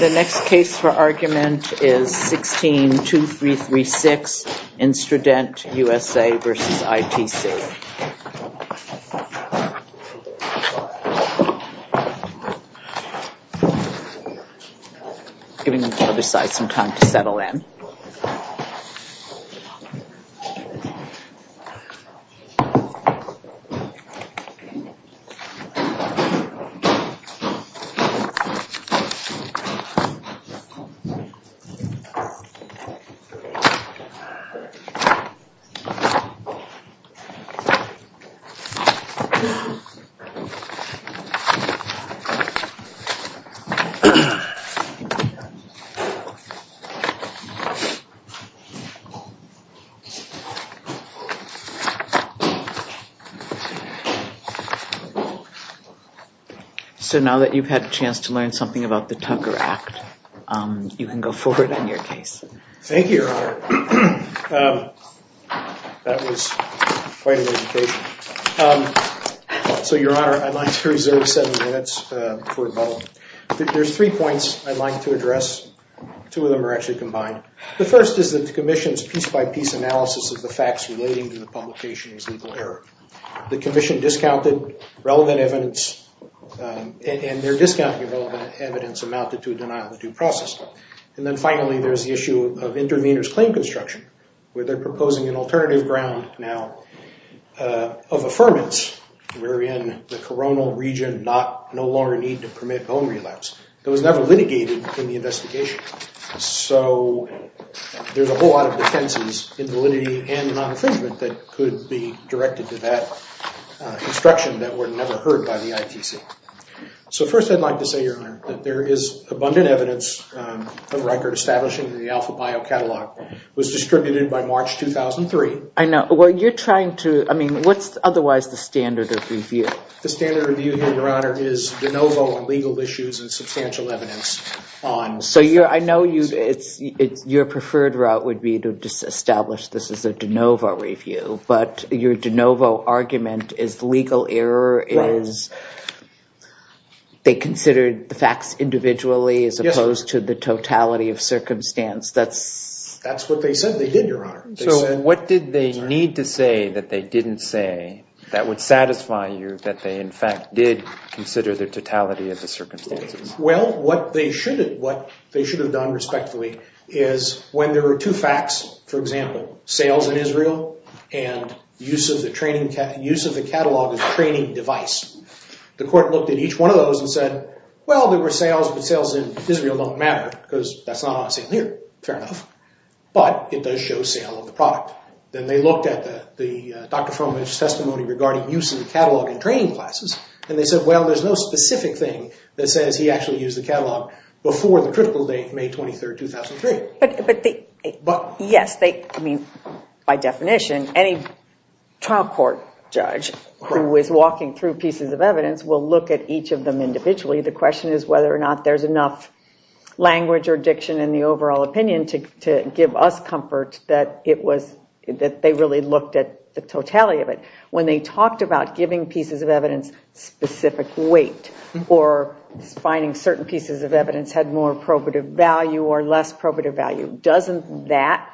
The next case for argument is 16-2336, Instradent USA v. ITC. The next case for argument is 16-2336, Instradent USA v. ITC. So now that you've had a chance to learn something about the Tucker Act, you can go forward on your case. Thank you, Your Honor. That was quite an education. So, Your Honor, I'd like to reserve seven minutes for development. There's three points I'd like to address. Two of them are actually combined. The first is that the commission's piece-by-piece analysis of the facts relating to the publication is legal error. The commission discounted relevant evidence and their discounting of relevant evidence amounted to a denial of due process. And then finally, there's the issue of intervener's claim construction, where they're proposing an alternative ground now of affirmance, wherein the coronal region no longer need to permit bone relapse. That was never litigated in the investigation. So there's a whole lot of defenses, invalidity and non-infringement, that could be directed to that instruction that were never heard by the ITC. So first, I'd like to say, Your Honor, that there is abundant evidence of Riker establishing the Alpha Bio Catalog. It was distributed by March 2003. I know. Well, you're trying to... I mean, what's otherwise the standard of review? The standard review here, Your Honor, is de novo on legal issues and substantial evidence on... So I know your preferred route would be to just establish this as a de novo review, but your de novo argument is the legal error is they considered the facts individually as opposed to the totality of circumstance. That's... That's what they said they did, Your Honor. So what did they need to say that they didn't say that would satisfy you, that they in fact did consider the totality of the circumstances? Well, what they should have done respectfully is when there were two facts, for example, sales in Israel and use of the catalog as a training device, the court looked at each one of those and said, well, there were sales, but sales in Israel don't matter because that's not on a same year. Fair enough. But it does show sale of the product. Then they looked at the Dr. Fromich's testimony regarding use of the catalog in training classes, and they said, well, there's no specific thing that says he actually used the catalog before the critical date, May 23rd, 2003. But... But... By definition, any trial court judge who is walking through pieces of evidence will look at each of them individually. The question is whether or not there's enough language or diction in the overall opinion to give us comfort that it was... That they really looked at the totality of it. When they talked about giving pieces of evidence specific weight or finding certain pieces of evidence had more probative value or less probative value, doesn't that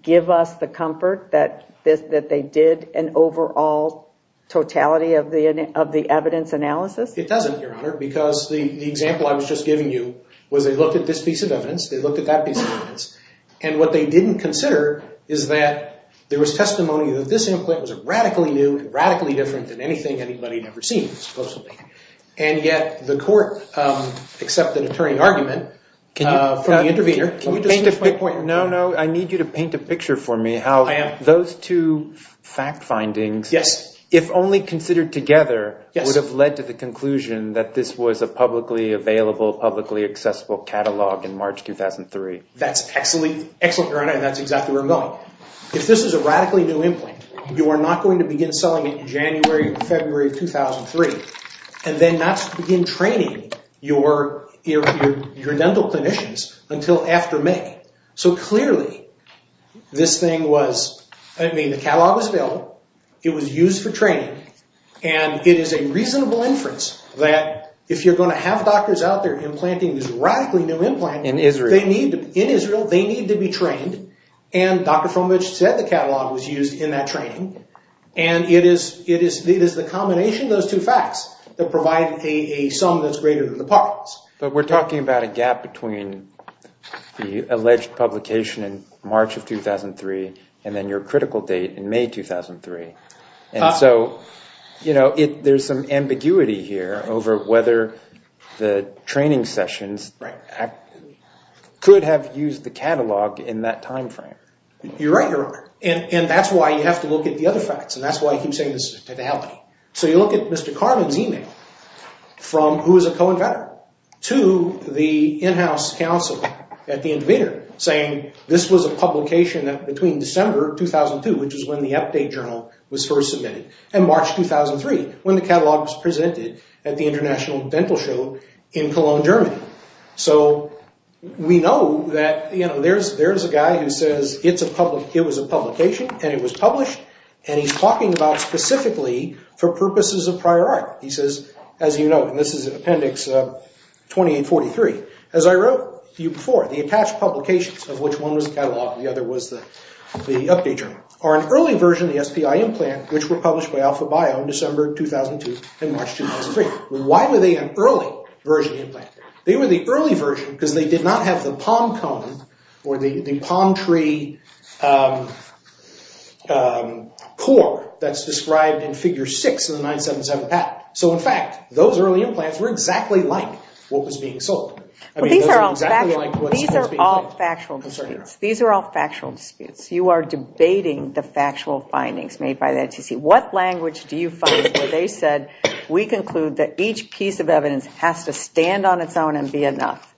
give us the comfort that they did an overall totality of the evidence analysis? It doesn't, Your Honor, because the example I was just giving you was they looked at this piece of evidence, they looked at that piece of evidence, and what they didn't consider is that there was testimony that this implant was radically new and radically different than anything anybody had ever seen, supposedly. And yet the court accepted a turning argument from the intervener. Can you just... Can you paint a quick point? I am. How those two fact findings, if only considered together, would have led to the conclusion that this was a publicly available, publicly accessible catalog in March 2003. That's excellent, Your Honor, and that's exactly where I'm going. If this is a radically new implant, you are not going to begin selling it in January or February of 2003, and then not begin training your dental clinicians until after May. So clearly, this thing was... I mean, the catalog was built, it was used for training, and it is a reasonable inference that if you're going to have doctors out there implanting this radically new implant... In Israel. In Israel, they need to be trained, and Dr. Fromage said the catalog was used in that training, and it is the combination of those two facts that provide a sum that's greater than the parts. But we're talking about a gap between the alleged publication in March of 2003, and then your critical date in May 2003, and so, you know, there's some ambiguity here over whether the training sessions could have used the catalog in that time frame. You're right, Your Honor, and that's why you have to look at the other facts, and that's why you keep saying this is a totality. So you look at Mr. Karman's email from, who is a co-inventor, to the in-house counsel at the intervener, saying this was a publication between December 2002, which is when the update journal was first submitted, and March 2003, when the catalog was presented at the International Dental Show in Cologne, Germany. So we know that, you know, there's a guy who says it was a publication, and it was published, and he's talking about specifically for purposes of prior art. He says, as you know, and this is Appendix 2843, as I wrote you before, the attached publications of which one was the catalog, the other was the update journal, are an early version of the SPI implant, which were published by Alpha Bio in December 2002 and March 2003. They were the early version because they did not have the palm cone or the palm tree core that's described in Figure 6 of the 977 patent. So in fact, those early implants were exactly like what was being sold. I mean, those were exactly like what was being sold. These are all factual disputes. You are debating the factual findings made by the NTC. What language do you find where they said, we conclude that each piece of evidence has to stand on its own and be enough?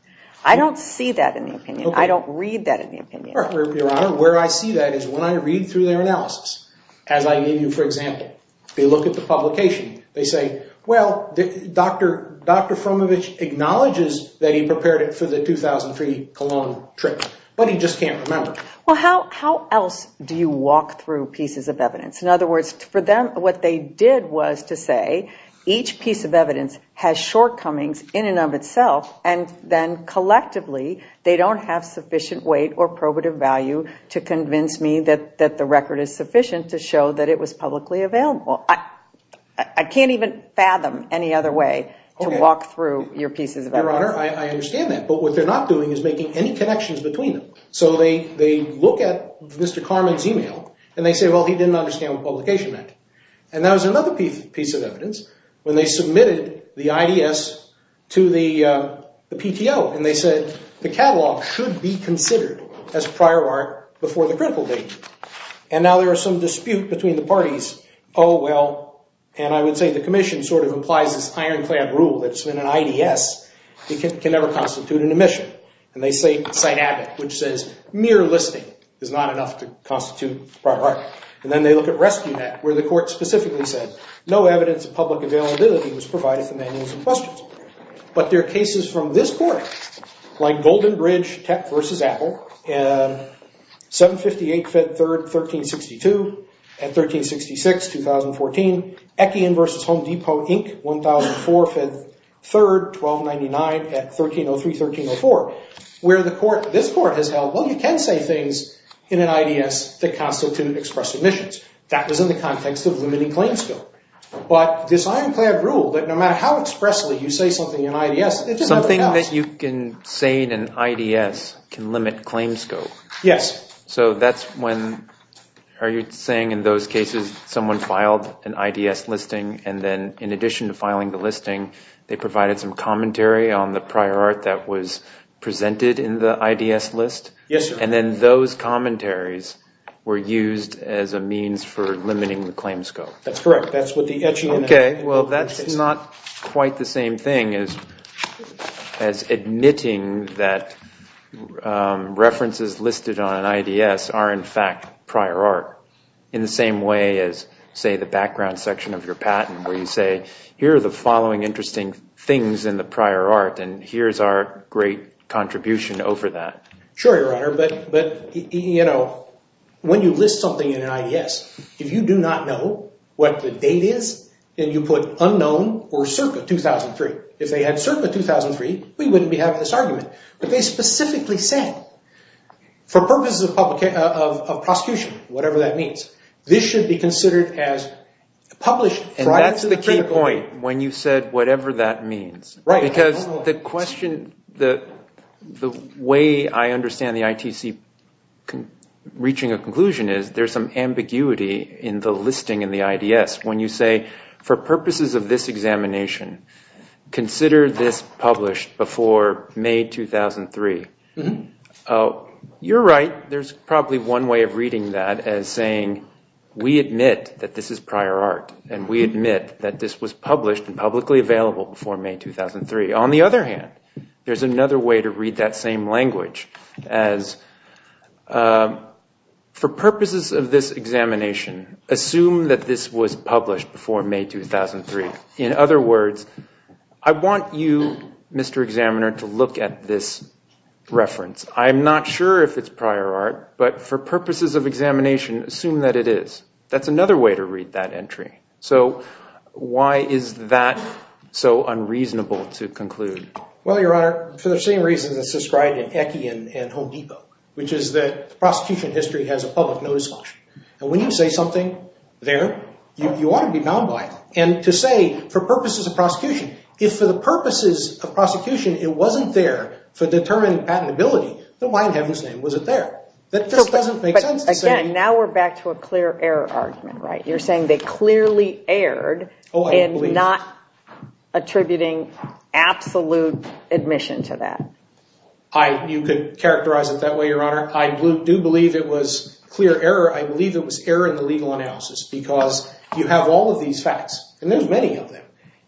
I don't see that in the opinion. I don't read that in the opinion. Your Honor, where I see that is when I read through their analysis, as I gave you, for example, they look at the publication. They say, well, Dr. Frumovich acknowledges that he prepared it for the 2003 Cologne trip, but he just can't remember. Well, how else do you walk through pieces of evidence? In other words, for them, what they did was to say, each piece of evidence has shortcomings in and of itself, and then collectively, they don't have sufficient weight or probative value to convince me that the record is sufficient to show that it was publicly available. I can't even fathom any other way to walk through your pieces of evidence. Your Honor, I understand that, but what they're not doing is making any connections between them. So they look at Mr. Karman's email, and they say, well, he didn't understand what publication meant. And that was another piece of evidence, when they submitted the IDS to the PTO, and they said the catalog should be considered as prior art before the critical date. And now there is some dispute between the parties, oh, well, and I would say the commission sort of implies this ironclad rule that it's been an IDS, it can never constitute an admission. And they cite Abbott, which says, mere listing is not enough to constitute prior art. And then they look at RescueNet, where the court specifically said, no evidence of public availability was provided for manuals and questions. But there are cases from this court, like Golden Bridge versus Apple, 758 Fed 3rd, 1362, at 1366, 2014. Ekian versus Home Depot, Inc., 1004, Fed 3rd, 1299, at 1303, 1304, where the court, this court has held, well, you can say things in an IDS that constitute express admissions. That was in the context of limiting claims scope. But this ironclad rule, that no matter how expressly you say something in IDS, it just never counts. Something that you can say in an IDS can limit claims scope? Yes. So that's when, are you saying in those cases, someone filed an IDS listing, and then in addition to filing the listing, they provided some commentary on the prior art that was presented in the IDS list? Yes, sir. And then those commentaries were used as a means for limiting the claims scope? That's correct. That's what the Echian Act says. OK. Well, that's not quite the same thing as admitting that references listed on an IDS are, in fact, prior art, in the same way as, say, the background section of your patent, where you say, here are the following interesting things in the prior art, and here's our great contribution over that. Sure, Your Honor. But when you list something in an IDS, if you do not know what the date is, then you put unknown or circa 2003. If they had circa 2003, we wouldn't be having this argument. But they specifically said, for purposes of prosecution, whatever that means, this should be considered as published prior to the critical point. And that's the key point, when you said, whatever that means. Right. Because the question, the way I understand the ITC reaching a conclusion is, there's some ambiguity in the listing in the IDS. When you say, for purposes of this examination, consider this published before May 2003. You're right. There's probably one way of reading that as saying, we admit that this is prior art. And we admit that this was published and publicly available before May 2003. On the other hand, there's another way to read that same language as, for purposes of this examination, assume that this was published before May 2003. In other words, I want you, Mr. Examiner, to look at this reference. I'm not sure if it's prior art, but for purposes of examination, assume that it is. That's another way to read that entry. So why is that so unreasonable to conclude? Well, Your Honor, for the same reasons as described in Ecke and Home Depot, which is that the prosecution history has a public notice function. And when you say something there, you ought to be bound by it. And to say, for purposes of prosecution, if for the purposes of prosecution, it wasn't there for determining patentability, then why in heaven's name was it there? That just doesn't make sense. Again, now we're back to a clear error argument, right? You're saying they clearly erred in not attributing absolute admission to that. You could characterize it that way, Your Honor. I do believe it was clear error. I believe it was error in the legal analysis. Because you have all of these facts, and there's many of them,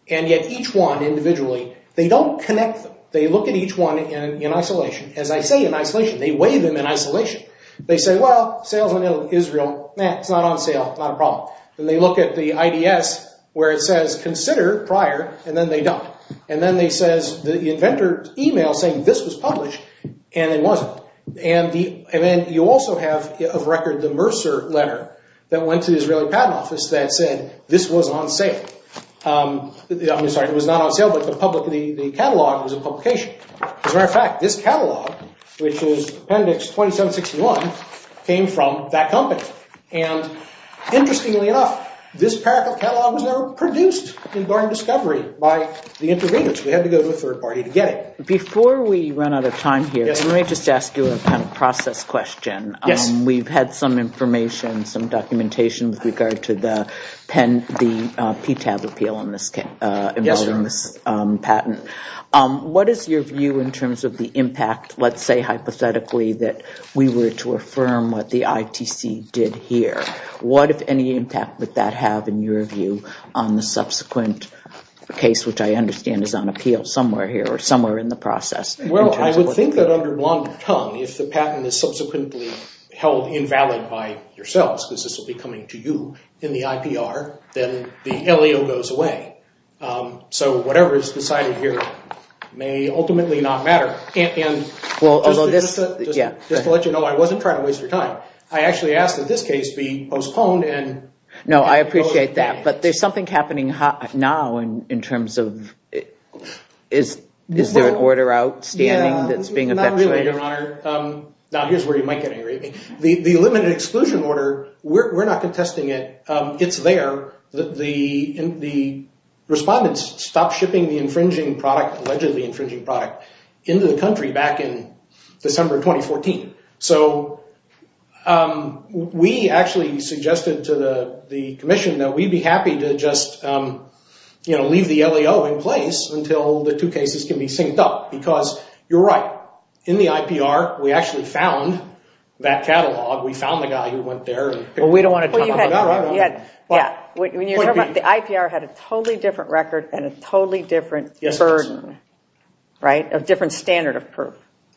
and yet each one individually, they don't connect them. They look at each one in isolation. As I say in isolation, they weigh them in isolation. They say, well, sales in Israel, it's not on sale, not a problem. Then they look at the IDS, where it says consider prior, and then they don't. And then they say the inventor's email saying this was published, and it wasn't. And then you also have, of record, the Mercer letter that went to the Israeli Patent Office that said this was on sale. I'm sorry, it was not on sale, but the catalog was a publication. As a matter of fact, this catalog, which is Appendix 2761, came from that company. And interestingly enough, this catalog was never produced in Barnard Discovery by the interveners. We had to go to a third party to get it. Before we run out of time here, let me just ask you a process question. We've had some information, some documentation with regard to the PTAB appeal involving this patent. What is your view in terms of the impact, let's say hypothetically, that we were to affirm what the ITC did here? What, if any, impact would that have, in your view, on the subsequent case, which I understand is on appeal somewhere here or somewhere in the process? Well, I would think that under blonde tongue, if the patent is subsequently held invalid by yourselves, because this will be coming to you in the IPR, then the LAO goes away. So whatever is decided here may ultimately not matter. And just to let you know, I wasn't trying to waste your time. I actually asked that this case be postponed. No, I appreciate that. But there's something happening now in terms of, is there an order outstanding that's being effectuated? Not really, Your Honor. Now, here's where you might get angry at me. The limited exclusion order, we're not contesting it. It's there. The respondents stopped shipping the infringing product, allegedly infringing product, into the country back in December 2014. So we actually suggested to the commission that we'd be happy to just leave the LAO in place until the two cases can be synced up, because you're right. In the IPR, we actually found that catalog. We found the guy who went there and picked it up. Well, you had, yeah. When you're talking about the IPR had a totally different record and a totally different burden, right? A different standard of proof.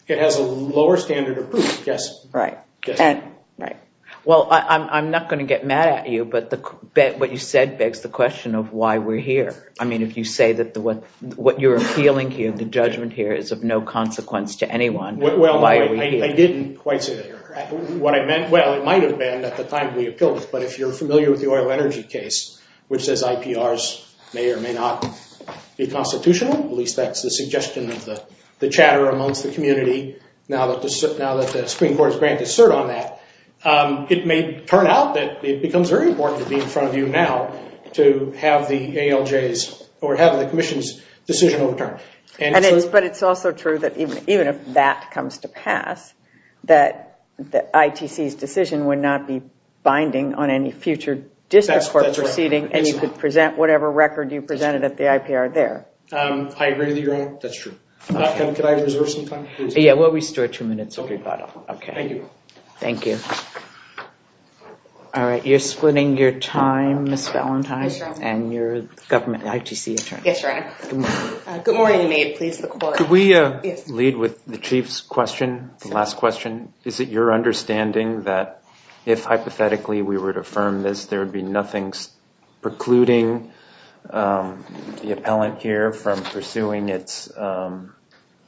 It has a lower standard of proof, yes. Right. Right. Well, I'm not going to get mad at you. But what you said begs the question of why we're here. I mean, if you say that what you're appealing here, the judgment here, is of no consequence to anyone, why are we here? I didn't quite say that. What I meant, well, it might have been at the time we appealed it. But if you're familiar with the oil energy case, which says IPRs may or may not be constitutional, at least that's the suggestion of the chatter amongst the community, now that the Supreme Court has granted cert on that, it may turn out that it becomes very important to be in front of you now to have the ALJs or have the commission's decision overturned. But it's also true that even if that comes to pass, that ITC's decision would not be binding on any future district court proceeding. And you could present whatever record you presented at the IPR there. I agree with you, Your Honor. That's true. Could I reserve some time, please? Yeah, we'll restore two minutes of your time. OK. Thank you. All right, you're splitting your time, Ms. Valentine, and your government ITC attorney. Yes, Your Honor. Good morning, you may please look forward. Could we lead with the chief's question, the last question? Is it your understanding that if, hypothetically, we were to affirm this, there would be nothing precluding the appellant here from pursuing its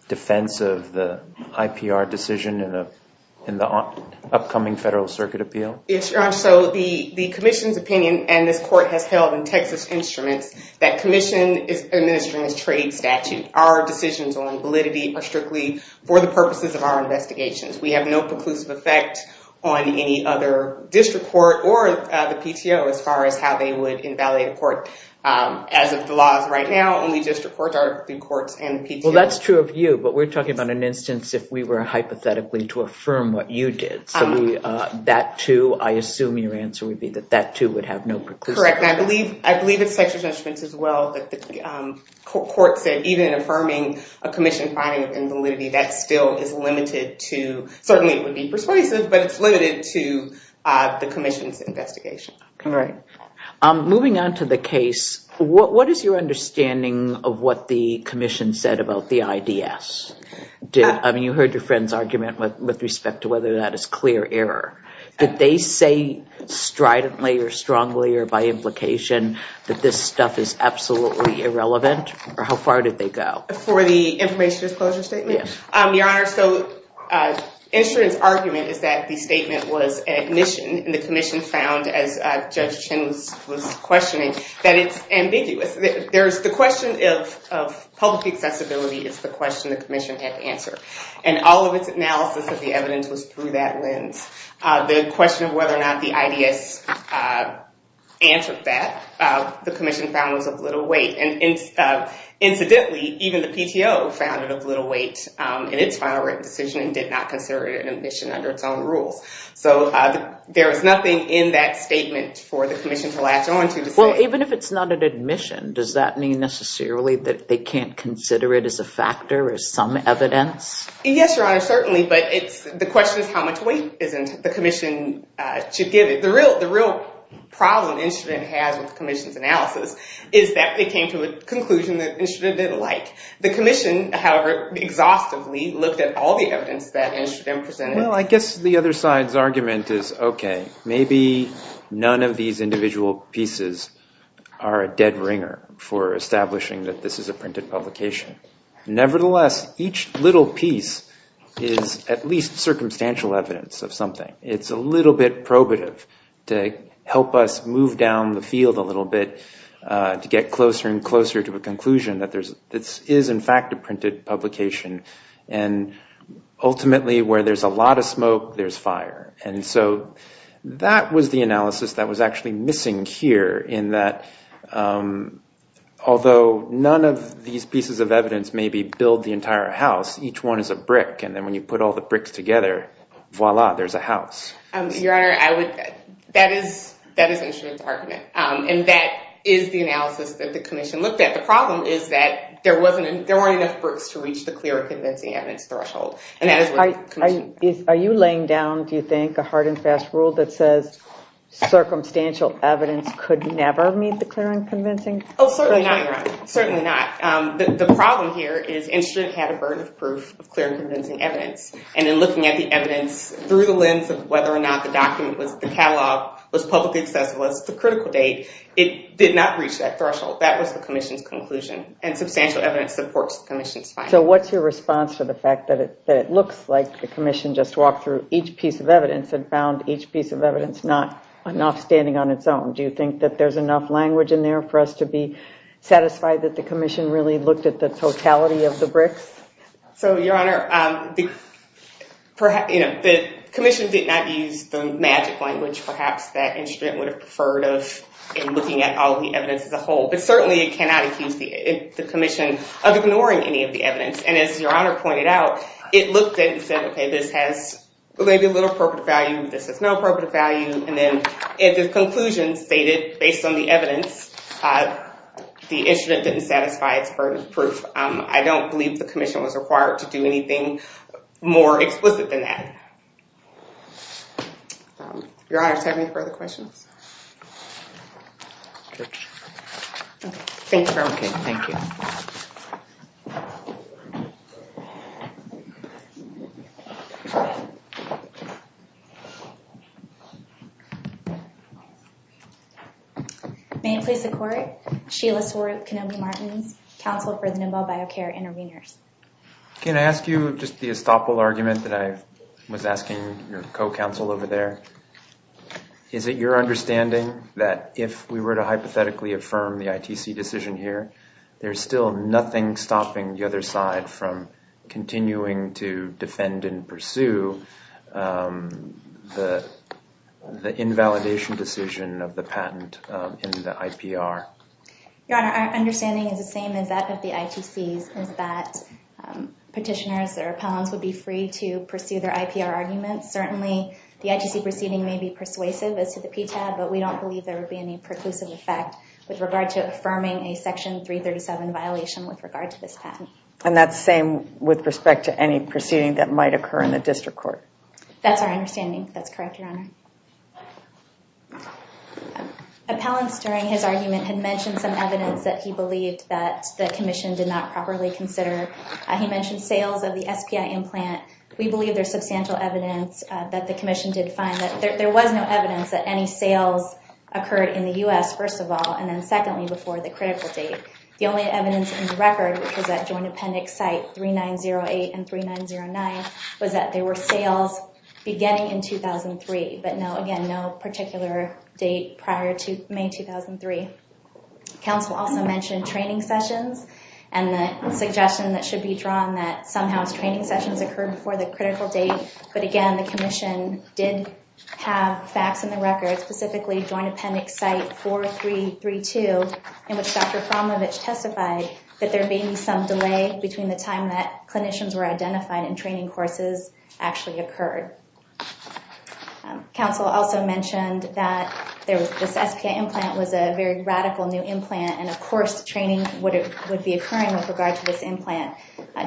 defense of the IPR decision in the upcoming federal circuit appeal? Yes, Your Honor, so the commission's opinion, and this court has held in Texas instruments, that commission is administering its trade statute. Our decisions on validity are strictly for the purposes of our investigations. We have no preclusive effect on any other district court or the PTO as far as how they would invalidate a court. As of the laws right now, only district courts are the courts and the PTO. Well, that's true of you. But we're talking about an instance if we were, hypothetically, to affirm what you did. So that, too, I assume your answer would be that that, too, would have no preclusive effect. Correct, and I believe it's such a judgment, as well, that the court said even affirming a commission finding of invalidity, that still is limited to, certainly it would be persuasive, but it's limited to the commission's investigation. Moving on to the case, what is your understanding of what the commission said about the IDS? I mean, you heard your friend's argument with respect to whether that is clear error. Did they say stridently, or strongly, or by implication that this stuff is absolutely irrelevant? Or how far did they go? For the information disclosure statement? Yes. Your Honor, so the insurance argument is that the statement was an admission. And the commission found, as Judge Chin was questioning, that it's ambiguous. The question of public accessibility is the question the commission had to answer. And all of its analysis of the evidence was through that lens. The question of whether or not the IDS answered that, the commission found was of little weight. And incidentally, even the PTO found it of little weight in its final written decision and did not consider it an admission under its own rules. So there is nothing in that statement for the commission to latch onto to say. Well, even if it's not an admission, does that mean necessarily that they can't consider it as a factor, as some evidence? Yes, Your Honor, certainly. But the question is how much weight is in it the commission should give it. The real problem the instrument has with the commission's analysis is that they came to a conclusion that the instrument didn't like. The commission, however, exhaustively looked at all the evidence that the instrument presented. Well, I guess the other side's argument is, OK, maybe none of these individual pieces are a dead ringer for establishing that this is a printed publication. Nevertheless, each little piece is at least circumstantial evidence of something. It's a little bit probative to help us move down the field a little bit to get closer and closer to a conclusion that this is, in fact, a printed publication. And ultimately, where there's a lot of smoke, there's fire. And so that was the analysis that was actually missing here in that, although none of these pieces of evidence maybe build the entire house, each one is a brick. And then when you put all the bricks together, voila, there's a house. Your Honor, that is the instrument's argument. And that is the analysis that the commission looked at. The problem is that there weren't enough bricks to reach the clear and convincing evidence threshold. And that is what the commission. Are you laying down, do you think, a hard and fast rule that says circumstantial evidence could never meet the clear and convincing? Oh, certainly not, Your Honor, certainly not. The problem here is the instrument had a burden of proof of clear and convincing evidence. And in looking at the evidence through the lens of whether or not the document was the catalog, was publicly accessible, was the critical date, it did not reach that threshold. That was the commission's conclusion. And substantial evidence supports the commission's finding. So what's your response to the fact that it looks like the commission just walked through each piece of evidence and found each piece of evidence not enough standing on its own? Do you think that there's enough language in there for us to be satisfied that the commission really looked at the totality of the bricks? So, Your Honor, the commission did not use the magic language, perhaps, that instrument would have preferred of in looking at all the evidence as a whole. But certainly, it cannot accuse the commission of ignoring any of the evidence. And as Your Honor pointed out, it looked at it and said, OK, this has maybe a little appropriate value. This has no appropriate value. And then, if the conclusion stated, based on the evidence, the instrument didn't satisfy its burden of proof, I don't believe the commission was required to do anything more explicit than that. Your Honor, do you have any further questions? Sure. OK, thank you very much. OK, thank you. Thank you. May it please the court, Sheila Swarup Kenobi-Martin, counsel for the Nimble Biocare Interveners. Can I ask you just the estoppel argument that I was asking your co-counsel over there? Is it your understanding that if we were to hypothetically affirm the ITC decision here, there's still nothing stopping the other side from continuing to defend and pursue the invalidation decision of the patent in the IPR? Your Honor, our understanding is the same as that of the ITCs, is that petitioners or appellants would be free to pursue their IPR arguments. Certainly, the ITC proceeding may be persuasive as to the PTAB, but we don't believe there would be any preclusive effect with regard to affirming a Section 337 violation with regard to this patent. And that's the same with respect to any proceeding that might occur in the district court. That's our understanding. That's correct, Your Honor. Appellants, during his argument, had mentioned some evidence that he believed that the commission did not properly consider. He mentioned sales of the SPI implant. We believe there's substantial evidence that the commission did find that there was no evidence that any sales occurred in the US, first of all, and then secondly, before the critical date. The only evidence in the record, which is that joint appendix site 3908 and 3909, was that there were sales beginning in 2003, but again, no particular date prior to May 2003. Counsel also mentioned training sessions, and the suggestion that should be drawn that somehow training sessions occurred before the critical date. But again, the commission did have facts in the record, specifically joint appendix site 4332, in which Dr. Framovich testified that there may be some delay between the time that clinicians were identified and training courses actually occurred. Counsel also mentioned that this SPI implant was a very radical new implant, and of course, training would be occurring with regard to this implant.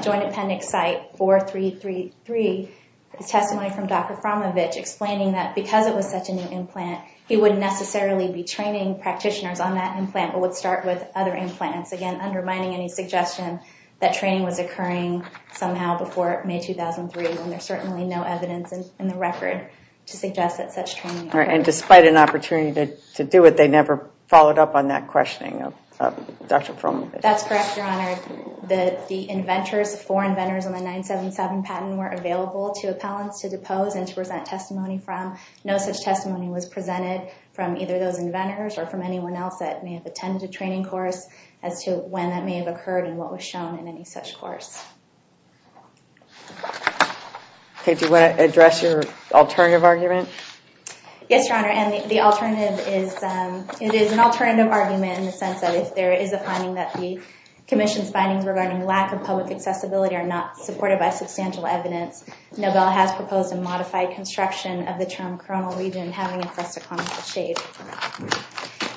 Joint appendix site 4333 is testimony from Dr. Framovich explaining that because it was such a new implant, he wouldn't necessarily be training practitioners on that implant, but would start with other implants, again, undermining any suggestion that training was occurring somehow before May 2003, when there's certainly no evidence in the record to suggest that such training occurred. And despite an opportunity to do it, they never followed up on that questioning of Dr. Framovich. That's correct, Your Honor. The inventors, the four inventors on the 977 patent were available to appellants to depose and to present testimony from. No such testimony was presented from either of those inventors or from anyone else that may have attended a training course as to when that may have occurred and what was shown in any such course. OK, do you want to address your alternative argument? Yes, Your Honor, and the alternative is it is an alternative argument in the sense that if there is a finding that the commission's findings regarding lack of public accessibility are not supported by substantial evidence, Nobel has proposed a modified construction of the term coronal region having a fresco-clonical shape.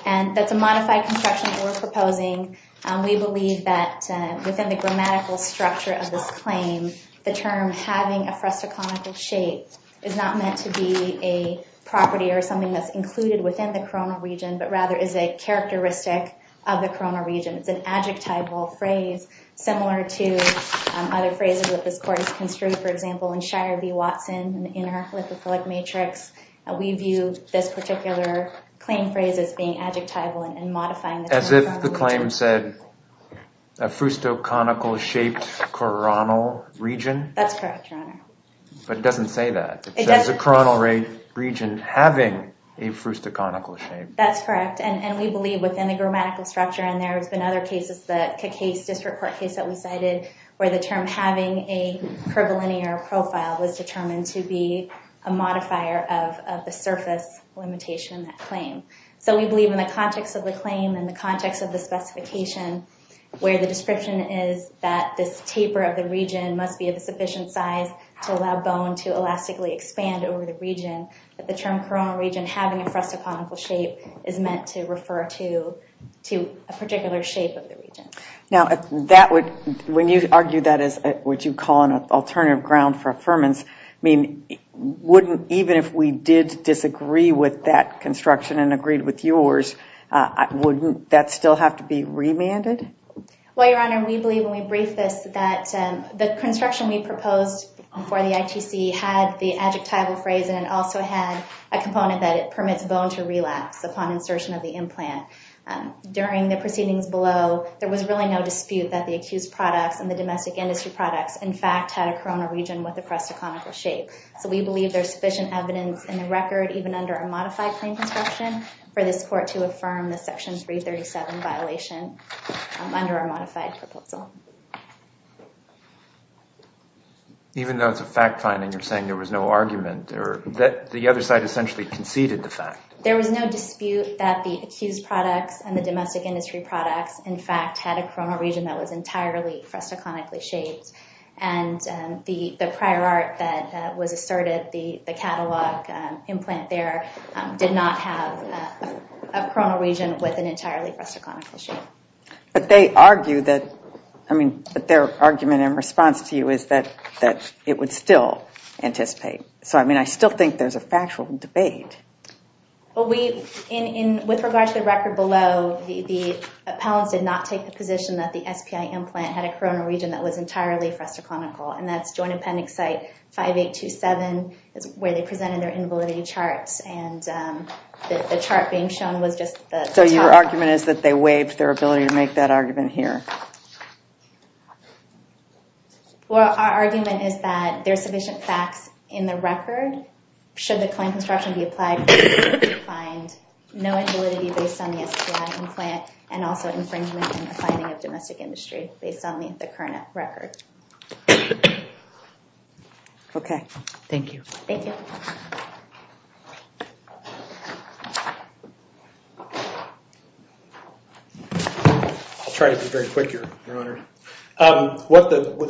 And that's a modified construction that we're proposing. We believe that within the grammatical structure of this claim, the term having a fresco-clonical shape is not meant to be a property or something that's included within the coronal region, but rather is a characteristic of the coronal region. It's an adjectival phrase, similar to other phrases that this court has construed, for example, in Shire v. Watson in her polyprophyllic matrix. We view this particular claim phrase as being adjectival and modifying the term. As if the claim said a fresco-clonical-shaped coronal region? That's correct, Your Honor. But it doesn't say that. It says a coronal region having a fresco-clonical shape. That's correct. And we believe within the grammatical structure, and there has been other cases, the Cacase District Court case that we cited, where the term having a curvilinear profile was determined to be a modifier of the surface limitation in that claim. So we believe in the context of the claim and the context of the specification, where the description is that this taper of the region must be of a sufficient size to allow bone to elastically expand over the region, that the term coronal region having a fresco-clonical shape is meant to refer to a particular shape of the region. Now, when you argue that as what you call an alternative ground for affirmance, I mean, even if we did disagree with that construction and agreed with yours, wouldn't that still have to be remanded? Well, Your Honor, we believe when we briefed this that the construction we proposed for the ITC had the adjectival phrase in it and also had a component that it permits bone to relapse upon insertion of the implant. During the proceedings below, there was really no dispute that the accused products and the domestic industry products, in fact, had a coronal region with a fresco-clonical shape. So we believe there's sufficient evidence in the record, even under a modified claim construction, for this court to affirm the Section 337 violation under our modified proposal. Even though it's a fact finding, you're saying there was no argument or that the other side essentially conceded the fact. There was no dispute that the accused products and the domestic industry products, in fact, had a coronal region that was entirely fresco-clonically shaped. And the prior art that was asserted, the catalog implant there, did not have a coronal region with an entirely fresco-clonical shape. But they argue that, I mean, their argument in response to you is that it would still anticipate. So I mean, I still think there's a factual debate. Well, with regard to the record below, the appellants did not take the position that the SPI implant had a coronal region that was entirely fresco-clonical. And that's Joint Appendix Site 5827, is where they presented their invalidity charts. And the chart being shown was just the top. So your argument is that they waived their ability to make that argument here? Well, our argument is that there's sufficient facts in the record, should the claim construction be applied, to find no invalidity based on the SPI implant, and also infringement in the finding of domestic industry, based on the current record. OK. Thank you. Thank you. I'll try to be very quick, Your Honor.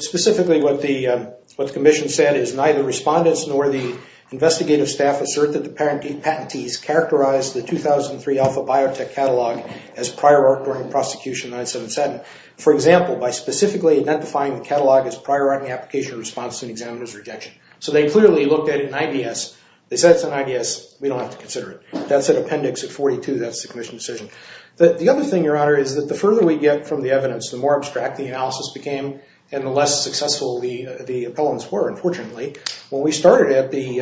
Specifically, what the commission said is neither respondents nor the investigative staff assert that the patentees characterized the 2003 Alpha Biotech catalog as prior art during the prosecution of 977. For example, by specifically identifying the catalog as prior art in the application response to an examiner's rejection. So they clearly looked at it in IDS. They said it's in IDS, we don't have to consider it. That's an appendix at 42, that's the commission's decision. The other thing, Your Honor, is that the further we get from the evidence, the more abstract the analysis became, and the less successful the appellants were, unfortunately. When we started at the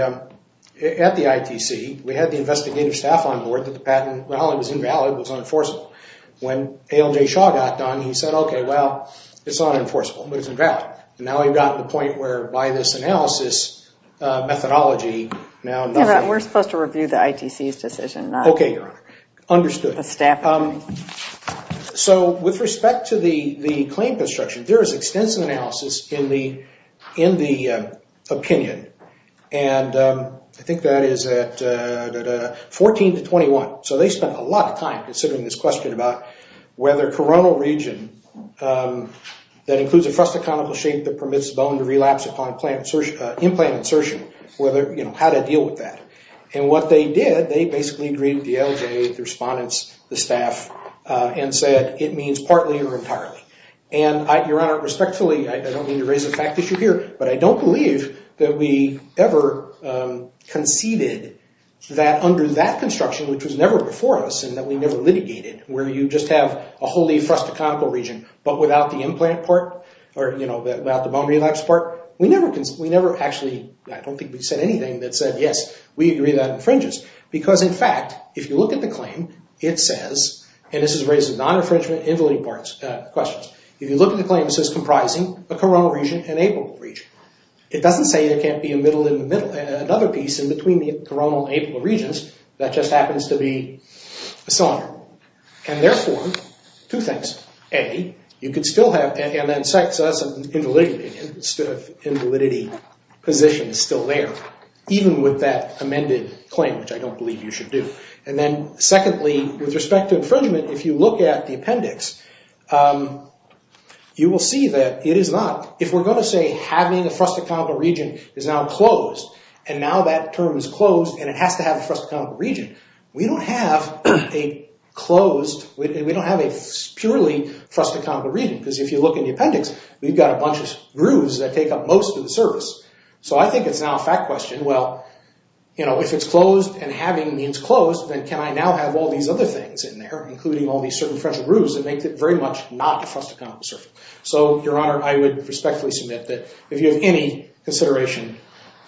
ITC, we had the investigative staff on board that the patent, while it was invalid, was unenforceable. When ALJ Shaw got done, he said, OK, well, it's unenforceable, but it's invalid. And now we've gotten to the point where, by this analysis methodology, now nothing. We're supposed to review the ITC's decision, not the staff. So with respect to the claim construction, there is extensive analysis in the opinion. And I think that is at 14 to 21. So they spent a lot of time considering this question about whether coronal region, that includes a frustaconical shape that permits bone to relapse upon implant insertion, how to deal with that. And what they did, they basically agreed with the ALJ, the respondents, the staff, and said, it means partly or entirely. And Your Honor, respectfully, I don't mean to raise a fact issue here, but I don't believe that we ever conceded that under that construction, which was never before us, and that we never litigated, where you just have a wholly frustaconical region, but without the implant part, or without the bone relapse part, we never actually, I don't think we said anything that said, yes, we agree that infringes. Because in fact, if you look at the claim, it says, and this is raising non-infringement invalidity questions. If you look at the claim, it says, comprising a coronal region and apical region. It doesn't say there can't be a middle in the middle, another piece in between the coronal and apical regions, that just happens to be a cylinder. And therefore, two things. A, you could still have, and then sex, that's an invalidity opinion, instead of invalidity position is still there, even with that amended claim, which I don't believe you should do. And then secondly, with respect to infringement, if you look at the appendix, you will see that it is not. If we're going to say having a frustaconical region is now closed, and now that term is closed, and it has to have a frustaconical region, we don't have a closed, we don't have a purely frustaconical region. Because if you look in the appendix, we've got a bunch of grooves that take up most of the surface. So I think it's now a fact question, well, if it's closed and having means closed, then can I now have all these other things in there, including all these certain groups that make it very much not a frustaconical surface. So, your honor, I would respectfully submit that if you have any consideration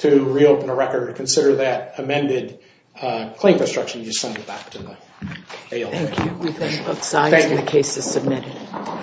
to reopen a record, consider that amended claim construction, you send it back to the ALA. Thank you, we've got both sides and the case is submitted.